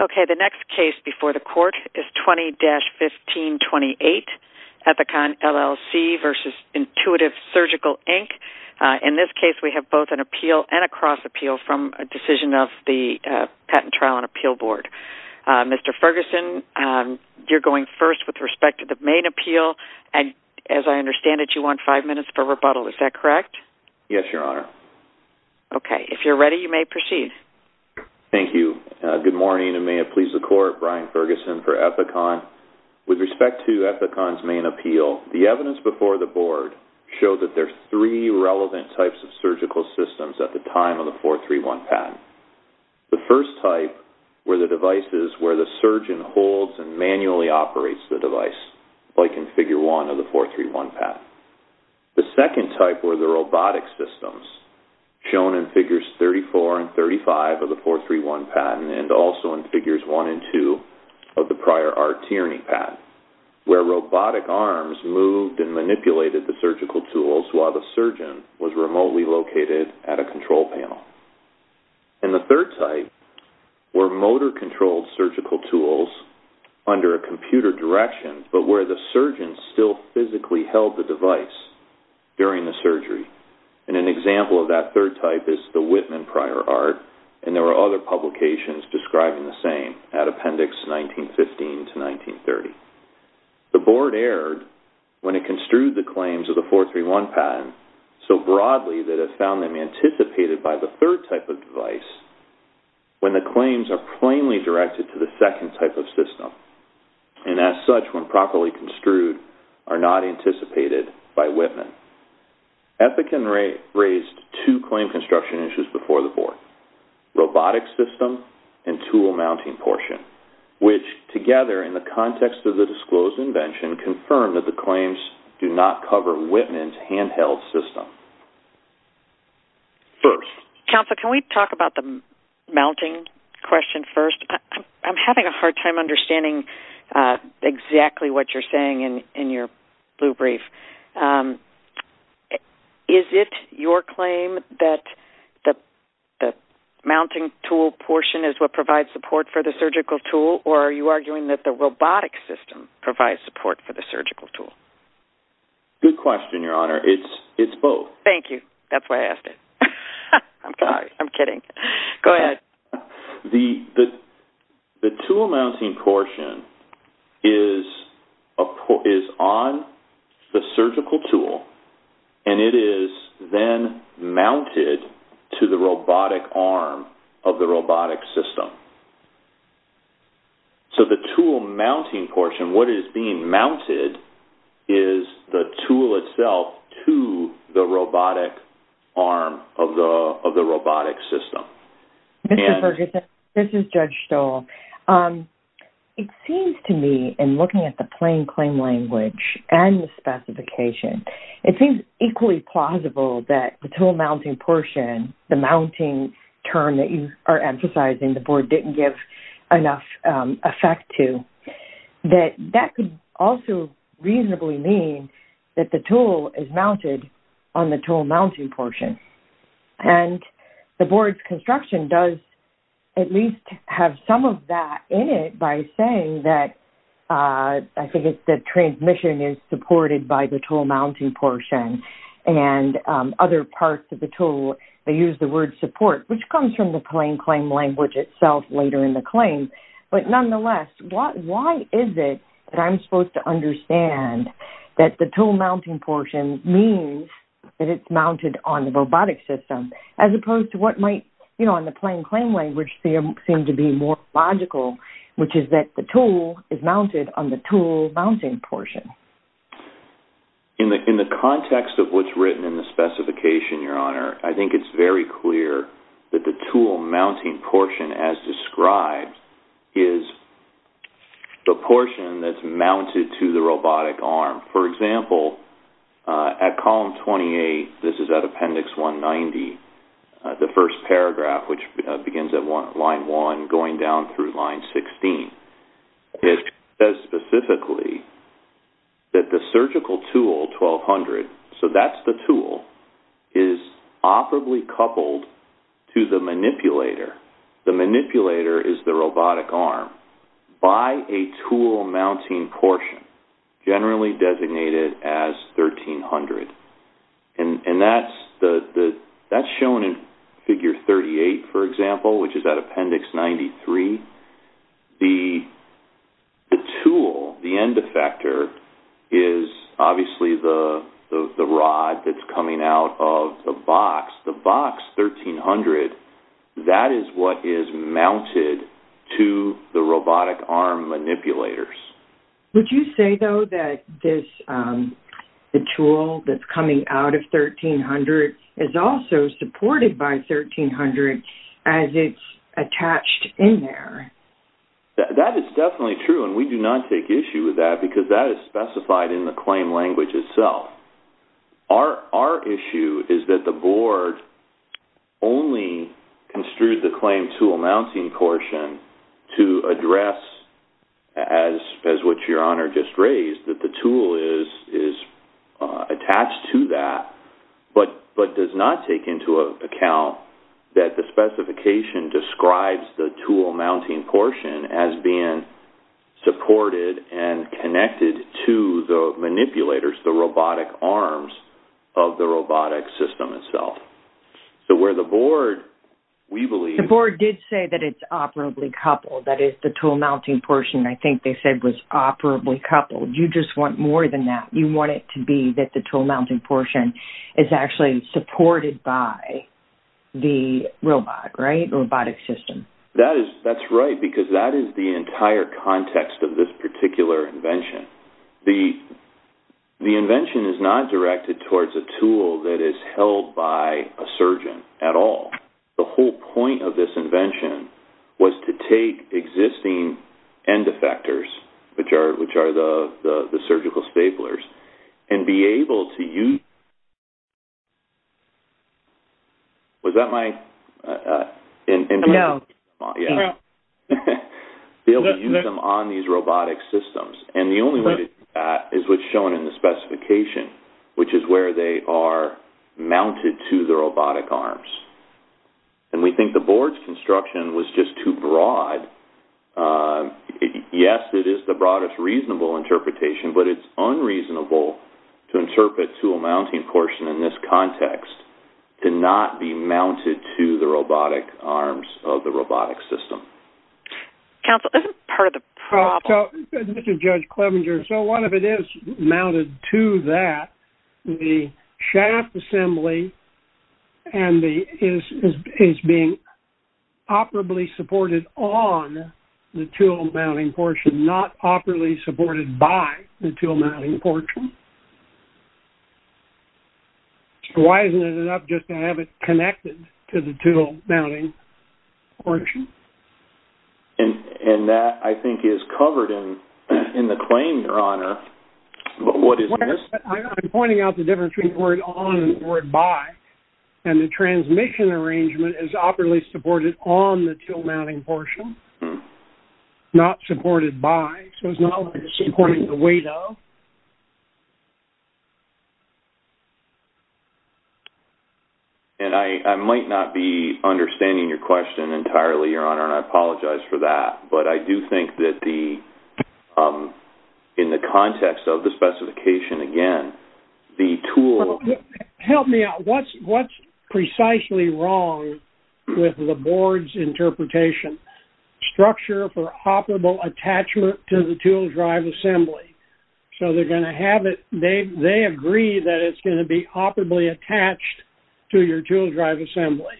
Okay the next case before the court is 20-1528 Ethicon LLC v. Intuitive Surgical, Inc. In this case we have both an appeal and a cross appeal from a decision of the Patent Trial and Appeal Board. Mr. Ferguson you're going first with respect to the main appeal and as I understand it you want five minutes for rebuttal is that correct? Yes your honor. Okay if you're ready you may proceed. Thank you. Good morning and may it please the court Brian Ferguson for Ethicon. With respect to Ethicon's main appeal the evidence before the board showed that there's three relevant types of surgical systems at the time of the 431 patent. The first type were the devices where the surgeon holds and manually operates the device like in figure one of the 431 patent. The second type were the robotic systems shown in figures 34 and 35 of the 431 patent and also in figures 1 and 2 of the prior R Tierney patent where robotic arms moved and manipulated the surgical tools while the surgeon was remotely located at a control panel. And the third type were motor controlled surgical tools under a computer direction but where the surgeon still physically held the device during the surgery. And an example of that third type is the Whitman prior art and there were other publications describing the same at appendix 1915 to 1930. The board erred when it construed the claims of the 431 patent so broadly that it found them anticipated by the third type of device when the claims are plainly directed to the second type of system and as such when properly construed are not anticipated by Whitman. Ethican raised two claim construction issues before the board. Robotic system and tool mounting portion which together in the context of the disclosed invention confirmed that the claims do not cover Whitman's handheld system. First counsel can we talk about the mounting question first I'm having a hard time understanding exactly what you're blue brief. Is it your claim that the mounting tool portion is what provides support for the surgical tool or are you arguing that the robotic system provides support for the surgical tool? Good question your honor it's it's both. Thank you that's why I asked it. I'm kidding go ahead. The tool mounting portion is on the surgical tool and it is then mounted to the robotic arm of the robotic system. So the tool mounting portion what is being mounted is the tool itself to the robotic arm of the of the robotic system. Mr. Ferguson this is Judge Stoll. It seems to me in looking at the plain claim language and the specification it seems equally plausible that the tool mounting portion the mounting term that you are emphasizing the board didn't give enough effect to that that could also reasonably mean that the tool is mounted on the tool mounting portion and the board's construction does at least have some of that in it by saying that I think it's the transmission is supported by the tool mounting portion and other parts of the tool they use the word support which comes from the plain claim language itself later in the claim but nonetheless what why is it that I'm supposed to understand that the tool that it's mounted on the robotic system as opposed to what might you know in the plain claim language they seem to be more logical which is that the tool is mounted on the tool mounting portion. In the context of what's written in the specification your honor I think it's very clear that the tool mounting portion as described is the portion that's mounted to the robotic arm for example at column 28 this is at appendix 190 the first paragraph which begins at one line one going down through line 16. It says specifically that the surgical tool 1200 so that's the tool is operably coupled to the manipulator the tool mounting portion generally designated as 1300 and and that's the that's shown in figure 38 for example which is that appendix 93 the the tool the end effector is obviously the the rod that's coming out of the box the is mounted to the robotic arm manipulators. Would you say though that this the tool that's coming out of 1300 is also supported by 1300 as it's attached in there? That is definitely true and we do not take issue with that because that is specified in the claim language itself. Our issue is that the claim tool mounting portion to address as as what your honor just raised that the tool is is attached to that but but does not take into account that the specification describes the tool mounting portion as being supported and connected to the manipulators the robotic arms of the robotic system itself. So where the board we believe the board did say that it's operably coupled that is the tool mounting portion I think they said was operably coupled you just want more than that you want it to be that the tool mounting portion is actually supported by the robot right robotic system. That is that's right because that is the entire context of this particular invention. The the the whole point of this invention was to take existing end effectors which are which are the the surgical staplers and be able to use them on these robotic systems and the only way that is what's shown in the specification which is where they are mounted to the robotic arms and we think the board's construction was just too broad. Yes it is the broadest reasonable interpretation but it's unreasonable to interpret tool mounting portion in this context to not be mounted to the robotic arms of the robotic system. Counsel this part of the problem. Mr. Judge Clevenger so what if it is mounted to that the shaft assembly and the is is being operably supported on the tool mounting portion not operably supported by the tool mounting portion. Why isn't it enough just to have it connected to the tool mounting portion? And and that I think is covered in in the claim your honor but what is this? I'm pointing out the difference between the word on and the word by and the transmission arrangement is operably supported on the tool mounting portion not supported by so it's not supporting the way though. And I might not be understanding your question entirely your honor and I apologize for that but I do think that the in the context of the specification again the tool. Help me out what's what's precisely wrong with the board's interpretation structure for operable attachment to the tool drive assembly. So they're going to have it they they agree that it's going to be operably attached to your tool drive assembly.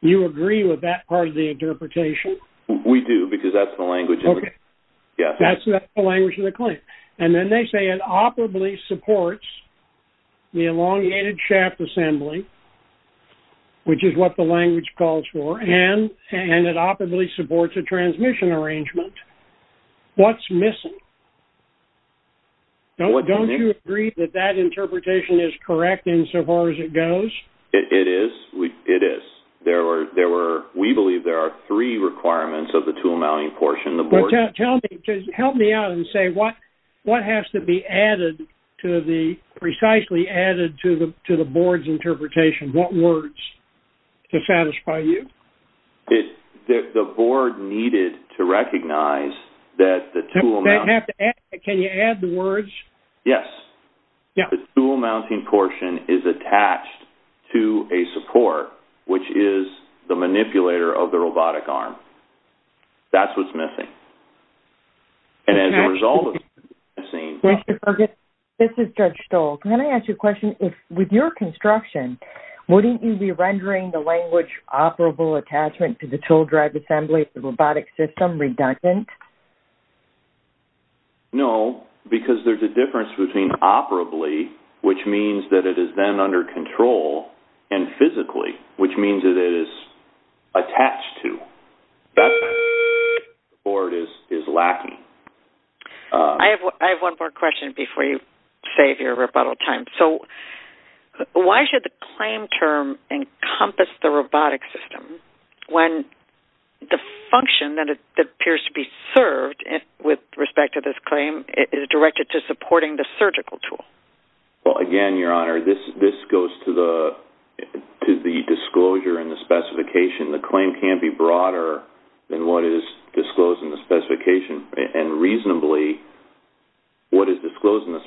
You agree with that part of the interpretation? We do because that's the language. Okay yeah that's the language of the claim and then they say it operably supports the elongated shaft assembly which is what the language calls for and and it operably supports a transmission arrangement. What's missing? Don't you agree that that interpretation is correct insofar as it goes? It is, it is. There were there were we believe there are three requirements of the tool mounting portion the board. Tell me, help me out and say what what has to be added to the precisely added to the to the board's interpretation? What words to satisfy you? The board needed to recognize that the tool mount. Can you add the words? Yes yeah the tool mounting portion is attached to a support which is the manipulator of the robotic arm. That's what's missing and as a result of missing. This is Judge Stoll. Can I ask you a question? If with your construction wouldn't you be rendering the language operable attachment to the tool drive assembly the robotic system redundant? No because there's a difference between operably which means that it is then under control and physically which means it is attached to that or it is is lacking. I have one more question before you save your rebuttal time. So why should the claim term encompass the robotic system when the function that it appears to be served with respect to this claim is directed to supporting the surgical tool? Well again your honor this this goes to the to the disclosure and the specification. The claim can't be broader than what is disclosed in the specification and reasonably what is disclosed in the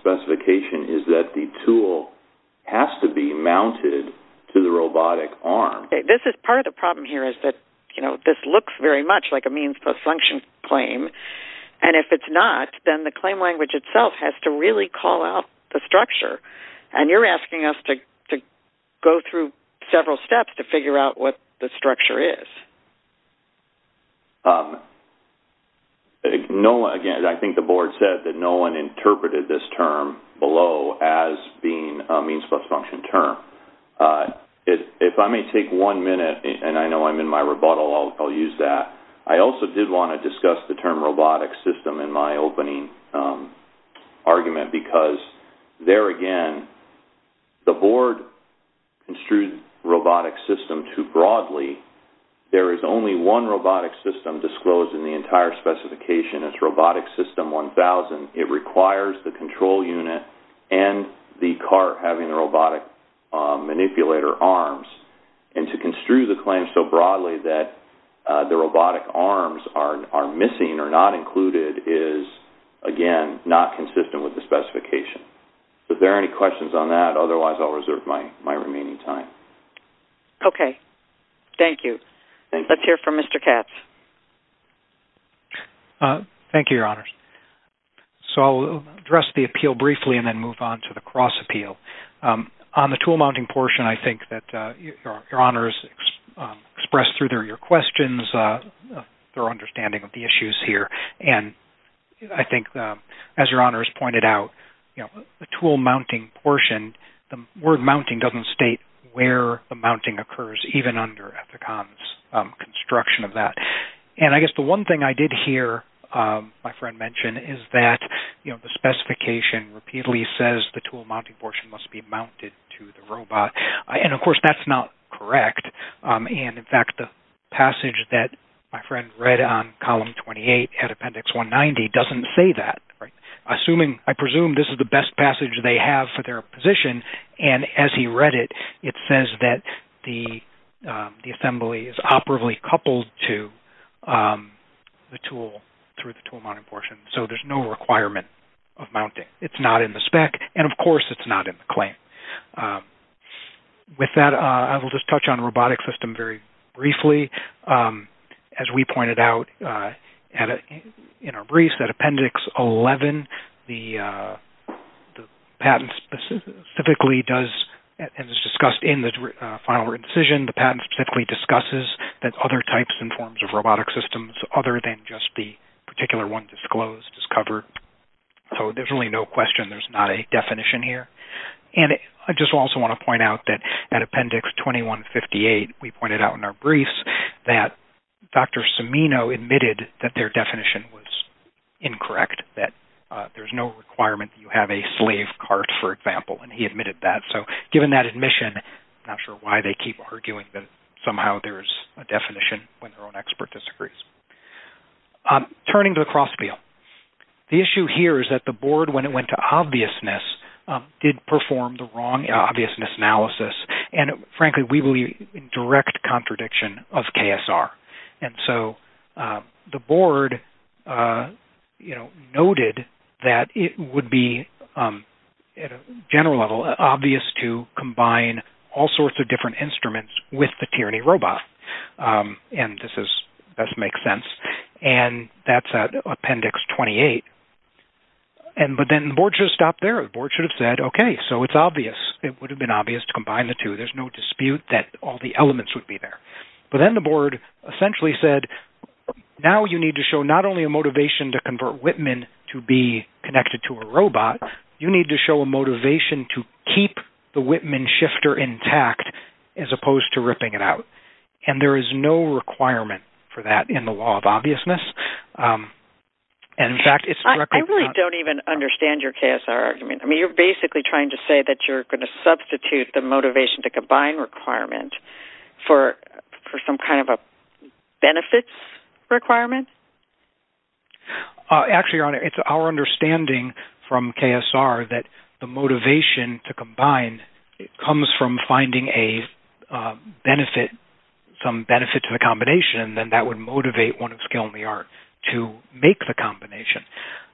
tool has to be mounted to the robotic arm. This is part of the problem here is that you know this looks very much like a means-post function claim and if it's not then the claim language itself has to really call out the structure and you're asking us to go through several steps to figure out what the structure is. Noah again I think the board said that no one interpreted this term below as being a means-post function term. If I may take one minute and I know I'm in my rebuttal I'll use that. I also did want to discuss the term robotic system in my opening argument because there again the board construed robotic system too broadly. There is only one robotic system disclosed in the entire specification. It's robotic system 1000. It requires the control unit and the car having a robotic manipulator arms and to construe the claim so broadly that the robotic arms are missing or not included is again not consistent with the specification. If there are any questions on that otherwise I'll reserve my my Thank you, Your Honors. So I'll address the appeal briefly and then move on to the cross appeal. On the tool mounting portion I think that Your Honors expressed through their your questions their understanding of the issues here and I think as Your Honors pointed out you know the tool mounting portion the word mounting doesn't state where the mounting occurs even under Ethicon's construction of that and I guess the one thing I did hear my friend mention is that you know the specification repeatedly says the tool mounting portion must be mounted to the robot and of course that's not correct and in fact the passage that my friend read on column 28 at appendix 190 doesn't say that assuming I presume this is the best passage they have for their position and as he read it it says that the the assembly is operably coupled to the tool through the tool mounting portion so there's no requirement of mounting it's not in the spec and of course it's not in the claim. With that I will just touch on robotic system very briefly as we pointed out in our briefs that the patent specifically does and is discussed in the final decision the patent specifically discusses that other types and forms of robotic systems other than just the particular one disclosed is covered so there's really no question there's not a definition here and I just also want to point out that at appendix 2158 we pointed out in our briefs that Dr. Cimino admitted that their requirement you have a slave cart for example and he admitted that so given that admission not sure why they keep arguing that somehow there's a definition when their own expert disagrees. Turning to the cross feel the issue here is that the board when it went to obviousness did perform the wrong obviousness analysis and frankly we believe in direct contradiction of would be at a general level obvious to combine all sorts of different instruments with the tyranny robot and this is that makes sense and that's at appendix 28 and but then the board just stopped there the board should have said okay so it's obvious it would have been obvious to combine the two there's no dispute that all the elements would be there but then the board essentially said now you need to show not only a motivation to convert Whitman to be connected to a robot you need to show a motivation to keep the Whitman shifter intact as opposed to ripping it out and there is no requirement for that in the law of obviousness and in fact it's I really don't even understand your KSR argument I mean you're basically trying to say that you're going to substitute the motivation to combine requirement for for some kind of a benefits requirement actually your honor it's our understanding from KSR that the motivation to combine it comes from finding a benefit some benefit to the combination and that would motivate one of skill in the art to make the combination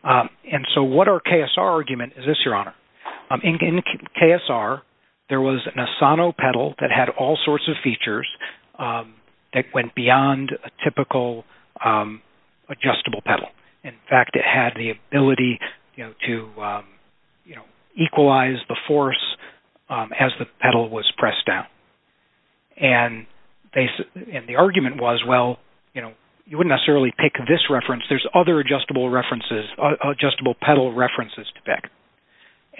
and so what our KSR argument is this your honor I think in KSR there was an Asano pedal that had all sorts of features that went beyond a typical adjustable pedal in fact it had the ability you know to you know equalize the force as the pedal was pressed down and they said and the argument was well you know you wouldn't necessarily pick this reference there's other adjustable references adjustable pedal references to back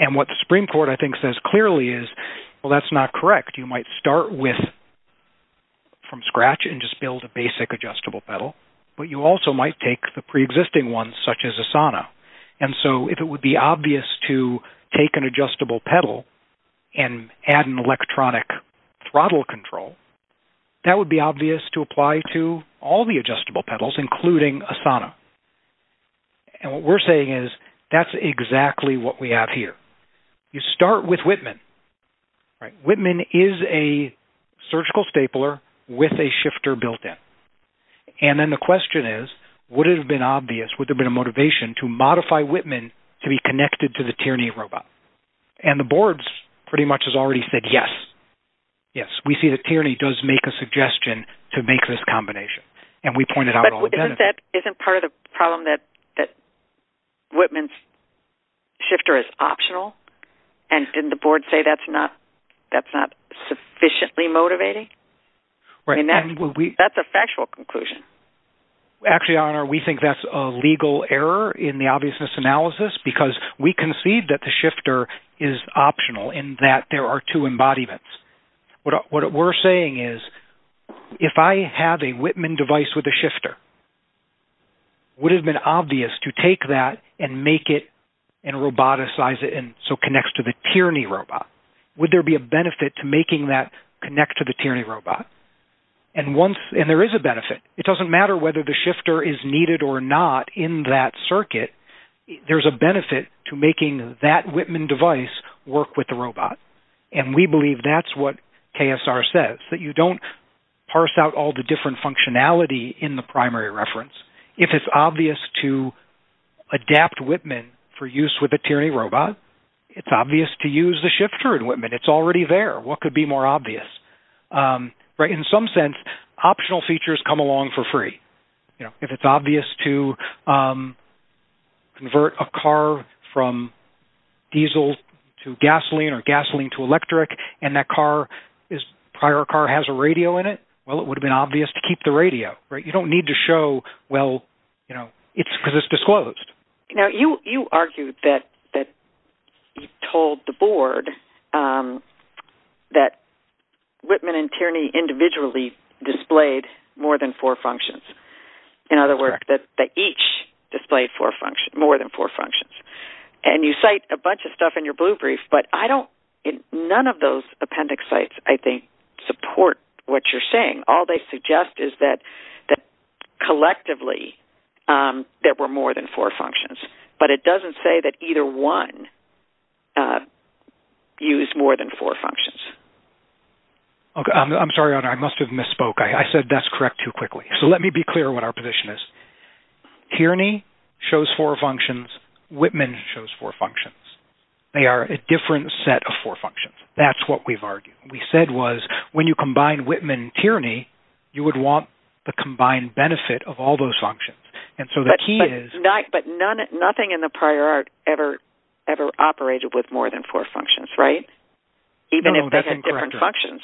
and what the Supreme Court I well that's not correct you might start with from scratch and just build a basic adjustable pedal but you also might take the pre-existing ones such as Asana and so if it would be obvious to take an adjustable pedal and add an electronic throttle control that would be obvious to apply to all the adjustable pedals including Asana and what we're saying is that's exactly what we have here you start with Whitman right Whitman is a surgical stapler with a shifter built in and then the question is would it have been obvious would have been a motivation to modify Whitman to be connected to the tyranny robot and the boards pretty much has already said yes yes we see the tyranny does make a suggestion to make this combination and we pointed out that isn't part of the that Whitman's shifter is optional and didn't the board say that's not that's not sufficiently motivating right and that's a factual conclusion actually honor we think that's a legal error in the obviousness analysis because we concede that the shifter is optional in that there are two embodiments what we're saying is if I have a Whitman device with a shifter would have been obvious to take that and make it and roboticize it and so connects to the tyranny robot would there be a benefit to making that connect to the tyranny robot and once and there is a benefit it doesn't matter whether the shifter is needed or not in that circuit there's a benefit to making that Whitman device work with the robot and we believe that's what KSR says that you don't parse out all the different functionality in the primary reference if it's obvious to adapt Whitman for use with a tyranny robot it's obvious to use the shifter in Whitman it's already there what could be more obvious right in some sense optional features come along for free you know if it's obvious to convert a car from diesel to gasoline or gasoline to electric and that car is prior car has a radio in it well it would have been obvious to keep the well you know it's because it's disclosed you know you you argued that that told the board that Whitman and tyranny individually displayed more than four functions in other words that they each displayed for function more than four functions and you cite a bunch of stuff in your blue brief but I don't in none of those appendix sites I think support what you're saying all they suggest is that that collectively there were more than four functions but it doesn't say that either one used more than four functions okay I'm sorry I must have misspoke I said that's correct too quickly so let me be clear what our position is tyranny shows four functions Whitman shows four functions they are a different set of four functions that's what we've argued we said was when you would want the combined benefit of all those functions and so the key is not but none nothing in the prior art ever ever operated with more than four functions right even if they had different functions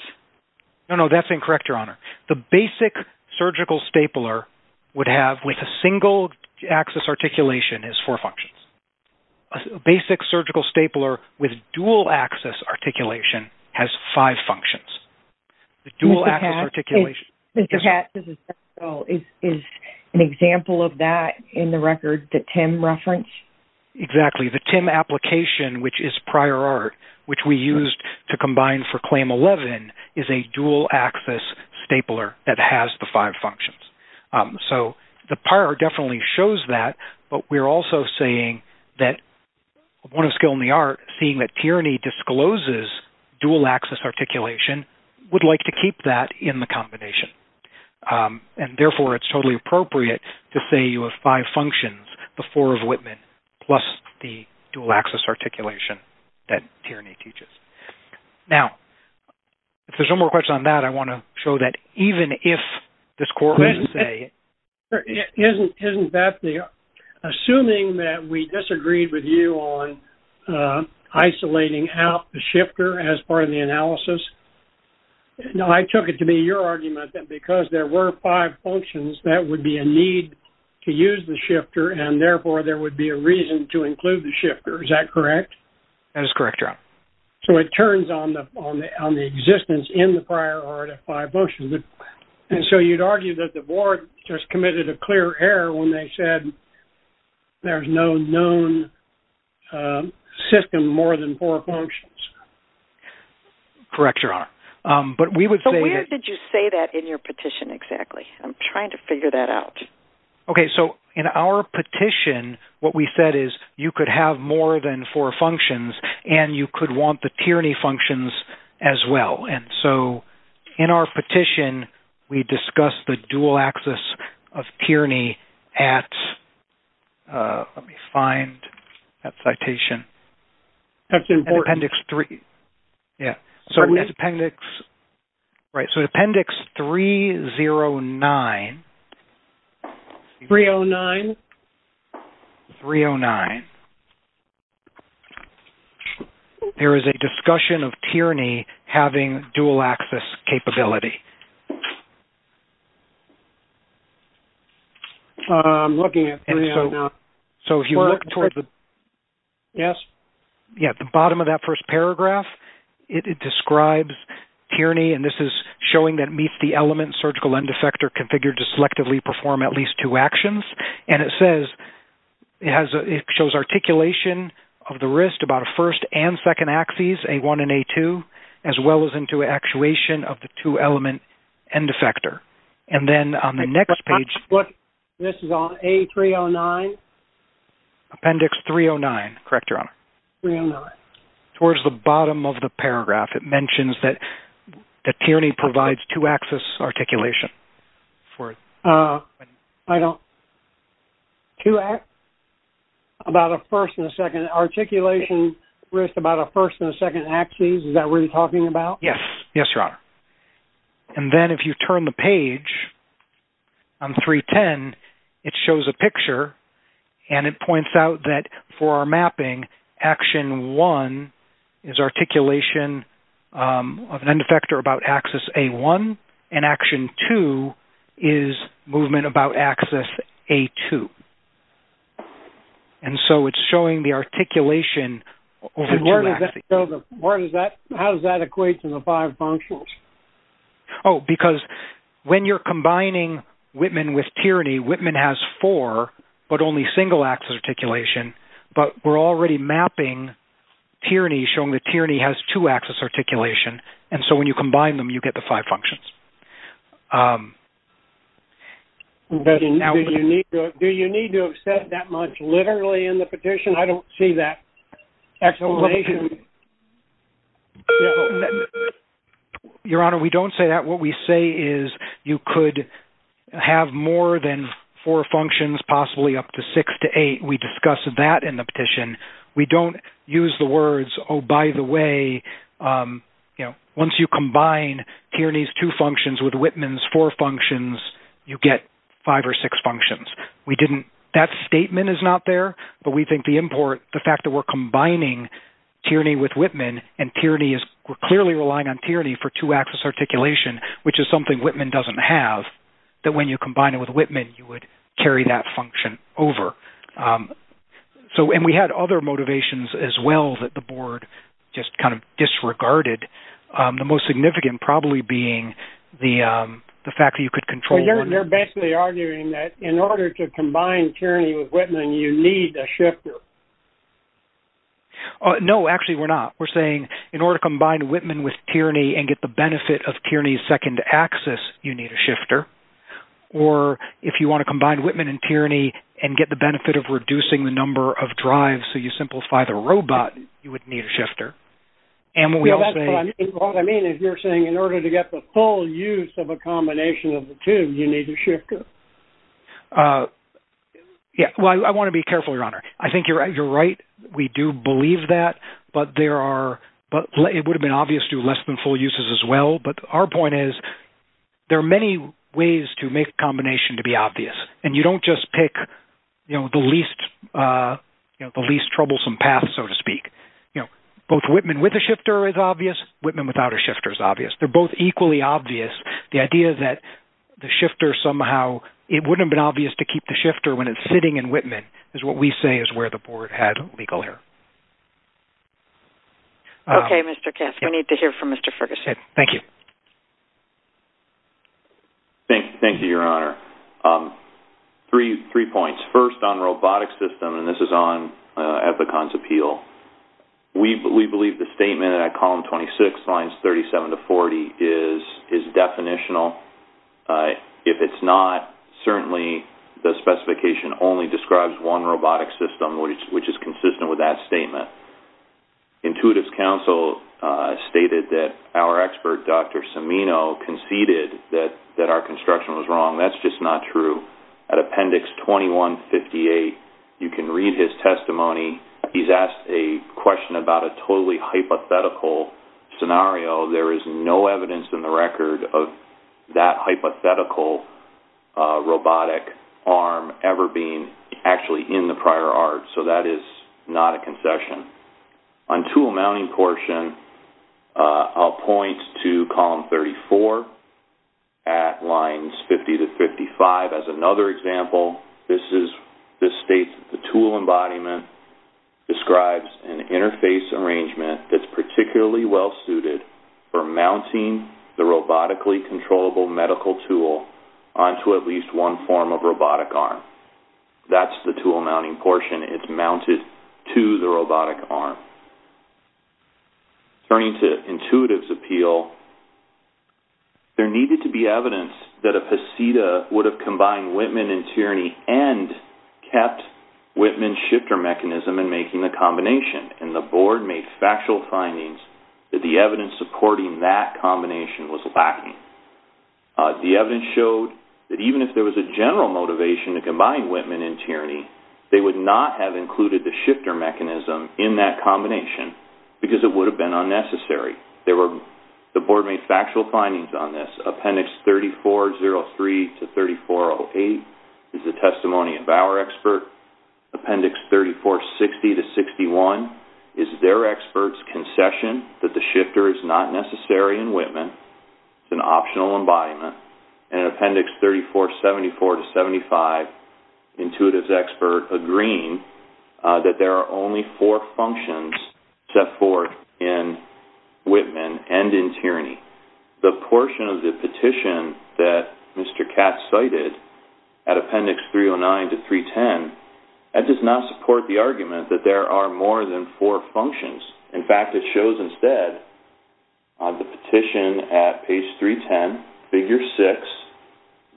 no no that's incorrect your honor the basic surgical stapler would have with a single axis articulation is four functions a basic surgical stapler with dual axis articulation has five functions the dual axis articulation is an example of that in the record that Tim referenced exactly the Tim application which is prior art which we used to combine for claim 11 is a dual axis stapler that has the five functions so the prior definitely shows that but we're also saying that one of skill in the art seeing that tyranny discloses dual axis articulation would like to keep that in the combination and therefore it's totally appropriate to say you have five functions the four of Whitman plus the dual axis articulation that tyranny teaches now if there's no more question on that I want to show that even if the score isn't that the assuming that we disagreed with you on isolating out the shifter as part of the analysis no I took it to be your argument that because there were five functions that would be a need to use the shifter and therefore there would be a reason to include the shifter is that correct that is correct so it turns on the on the existence in the prior art at five motions and so you'd argue that the board just committed a clear error when they said there's no known system more than four functions correct your honor but we would say did you say that in your petition exactly I'm trying to figure that out okay so in our petition what we said is you could have more than four functions and you could want the tyranny functions as well and so in our petition we discussed the dual axis of tyranny at let me find that citation that's important appendix three yeah so we appendix right so the appendix three zero nine three oh nine three oh nine there is a discussion of tyranny having dual axis capability I'm looking at so if you look towards the yes yeah at the bottom of that first paragraph it describes tyranny and this is showing that meets the element surgical end effector configured to selectively perform at two actions and it says it has it shows articulation of the wrist about a first and second axes a1 and a2 as well as into actuation of the two element and defector and then on the next page what this is on a 309 appendix 309 correct your honor towards the bottom of the paragraph it mentions that the tyranny provides two axis articulation for I don't to act about a first and a second articulation risk about a first and a second axes is that we're talking about yes yes your honor and then if you turn the page on 310 it shows a picture and it points out that for our mapping action one is articulation of an end or about axis a1 and action 2 is movement about axis a2 and so it's showing the articulation or does that how does that equate to the five punctual oh because when you're combining Whitman with tyranny Whitman has four but only single axis articulation but we're already mapping tyranny showing the tyranny has two axis articulation and so when you combine them you get the five functions but now you need to do you need to accept that much literally in the petition I don't see that actually your honor we don't say that what we say is you could have more than four functions possibly up to six to eight we discussed that in the petition we don't use the words oh by the way you know once you combine tyranny's two functions with Whitman's four functions you get five or six functions we didn't that statement is not there but we think the import the fact that we're combining tyranny with Whitman and tyranny is we're clearly relying on tyranny for two axis articulation which is something Whitman doesn't have that when you combine it with Whitman you would carry that so and we had other motivations as well that the board just kind of disregarded the most significant probably being the the fact that you could control they're basically arguing that in order to combine tyranny with Whitman you need a shifter no actually we're not we're saying in order to combine Whitman with tyranny and get the benefit of tyranny's second axis you need a shifter or if you want to combine Whitman and tyranny and get the benefit of reducing the number of drives so you simplify the robot you would need a shifter and what I mean is you're saying in order to get the full use of a combination of the two you need a shifter yeah well I want to be careful your honor I think you're right you're right we do believe that but there are but it would have been obvious to less than full uses as well but our point is there are many ways to make combination to be obvious and you don't just pick you know the least you know the least troublesome path so to speak you know both Whitman with a shifter is obvious Whitman without a shifter is obvious they're both equally obvious the idea that the shifter somehow it wouldn't been obvious to keep the shifter when it's sitting in Whitman is what we say is where the board had legal error okay mr. cast we need to hear from mr. Ferguson thank you thank you your honor three three points first on robotic system and this is on at the cons appeal we believe the statement at column 26 lines 37 to 40 is is definitional if it's not certainly the specification only describes one robotic system which is consistent with that statement intuitives counsel stated that our expert dr. Samino conceded that that our construction was wrong that's just not true at appendix 2158 you can read his testimony he's asked a question about a totally hypothetical scenario there is no evidence in the record of that is not a concession on tool mounting portion I'll point to column 34 at lines 50 to 55 as another example this is this state the tool embodiment describes an interface arrangement that's particularly well suited for mounting the robotically controllable medical tool on to at least one form of robotic arm that's the tool mounting portion it's mounted to the robotic arm turning to intuitives appeal there needed to be evidence that a pasita would have combined Whitman and tyranny and kept Whitman shifter mechanism and making the combination and the board made factual findings that the evidence supporting that combination was lacking the evidence showed that even if there was a combined Whitman and tyranny they would not have included the shifter mechanism in that combination because it would have been unnecessary there were the board made factual findings on this appendix 3403 to 3408 is the testimony of our expert appendix 3460 to 61 is their experts concession that the shifter is not necessary in Whitman an optional embodiment and appendix 3474 to intuitives expert agreeing that there are only four functions set forth in Whitman and in tyranny the portion of the petition that mr. Katz cited at appendix 309 to 310 that does not support the argument that there are more than four functions in fact it shows instead the petition at page 310 figure six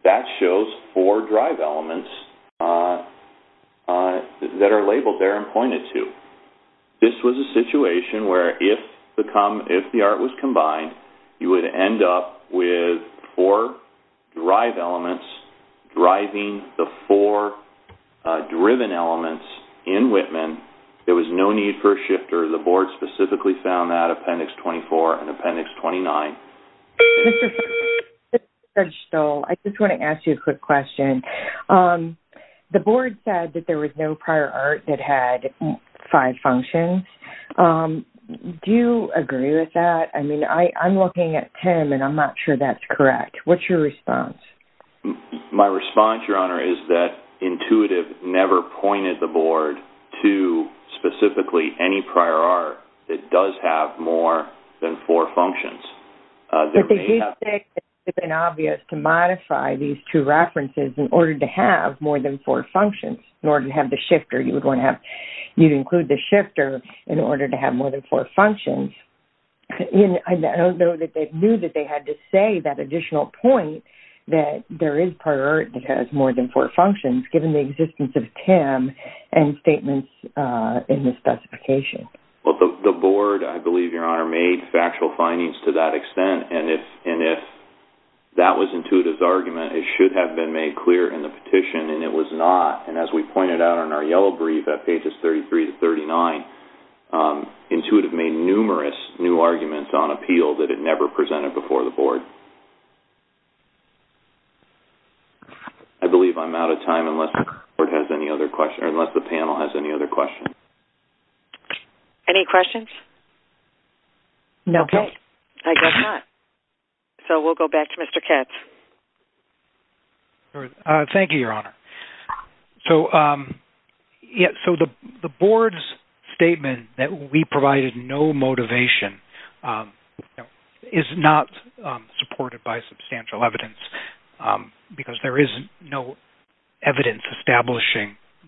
that shows four drive elements that are labeled there and pointed to this was a situation where if the come if the art was combined you would end up with four drive elements driving the four driven elements in Whitman there was no need for a shifter the board specifically found that appendix 24 and so I just want to ask you a quick question the board said that there was no prior art that had five functions do you agree with that I mean I I'm looking at Tim and I'm not sure that's correct what's your response my response your honor is that intuitive never pointed the board to specifically any prior art that does have more than four functions it's been obvious to modify these two references in order to have more than four functions in order to have the shifter you would want to have you include the shifter in order to have more than four functions I don't know that they knew that they had to say that additional point that there is priority has more than four functions given the the board I believe your honor made factual findings to that extent and if and if that was intuitive's argument it should have been made clear in the petition and it was not and as we pointed out on our yellow brief at pages 33 to 39 intuitive made numerous new arguments on appeal that it never presented before the board I believe I'm out of time unless it has any other question or unless the panel has any other questions any questions no okay I guess not so we'll go back to mr. Katz thank you your honor so yeah so the board's statement that we provided no motivation is not supported by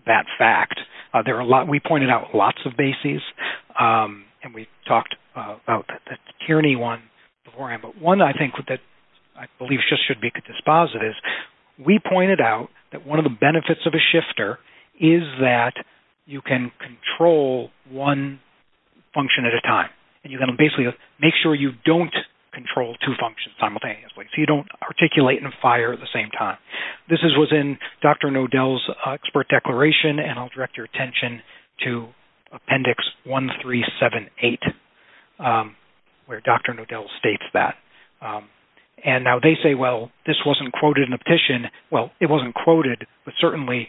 that fact there are a lot we pointed out lots of bases and we talked about that Tierney one before him but one I think that I believe just should be dispositive we pointed out that one of the benefits of a shifter is that you can control one function at a time and you're going to basically make sure you don't control two functions simultaneously so you don't articulate and fire at the same time this is was in dr. Nodell's expert declaration and I'll direct your attention to appendix one three seven eight where dr. Nodell states that and now they say well this wasn't quoted in the petition well it wasn't quoted but certainly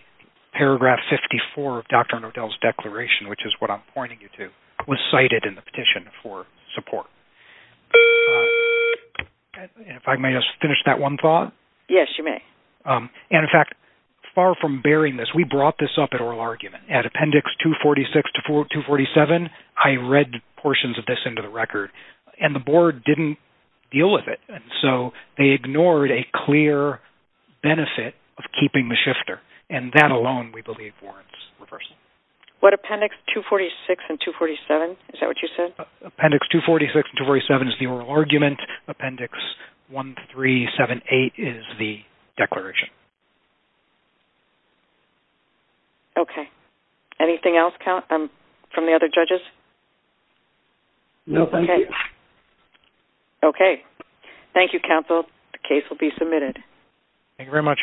paragraph 54 of dr. Nodell's declaration which is what I'm pointing you to was cited in the petition for support if I may just finish that one thought yes you may and in fact far from bearing this we brought this up at oral argument at appendix 246 to 4247 I read portions of this into the record and the board didn't deal with it and so they ignored a clear benefit of keeping the shifter and that alone we believe warrants reverse what appendix 246 and 247 is that what you said appendix 246 and 247 is the oral argument appendix one three seven eight is the declaration okay anything else count um from the other judges no thank you okay thank you counsel the case will be submitted thank you very much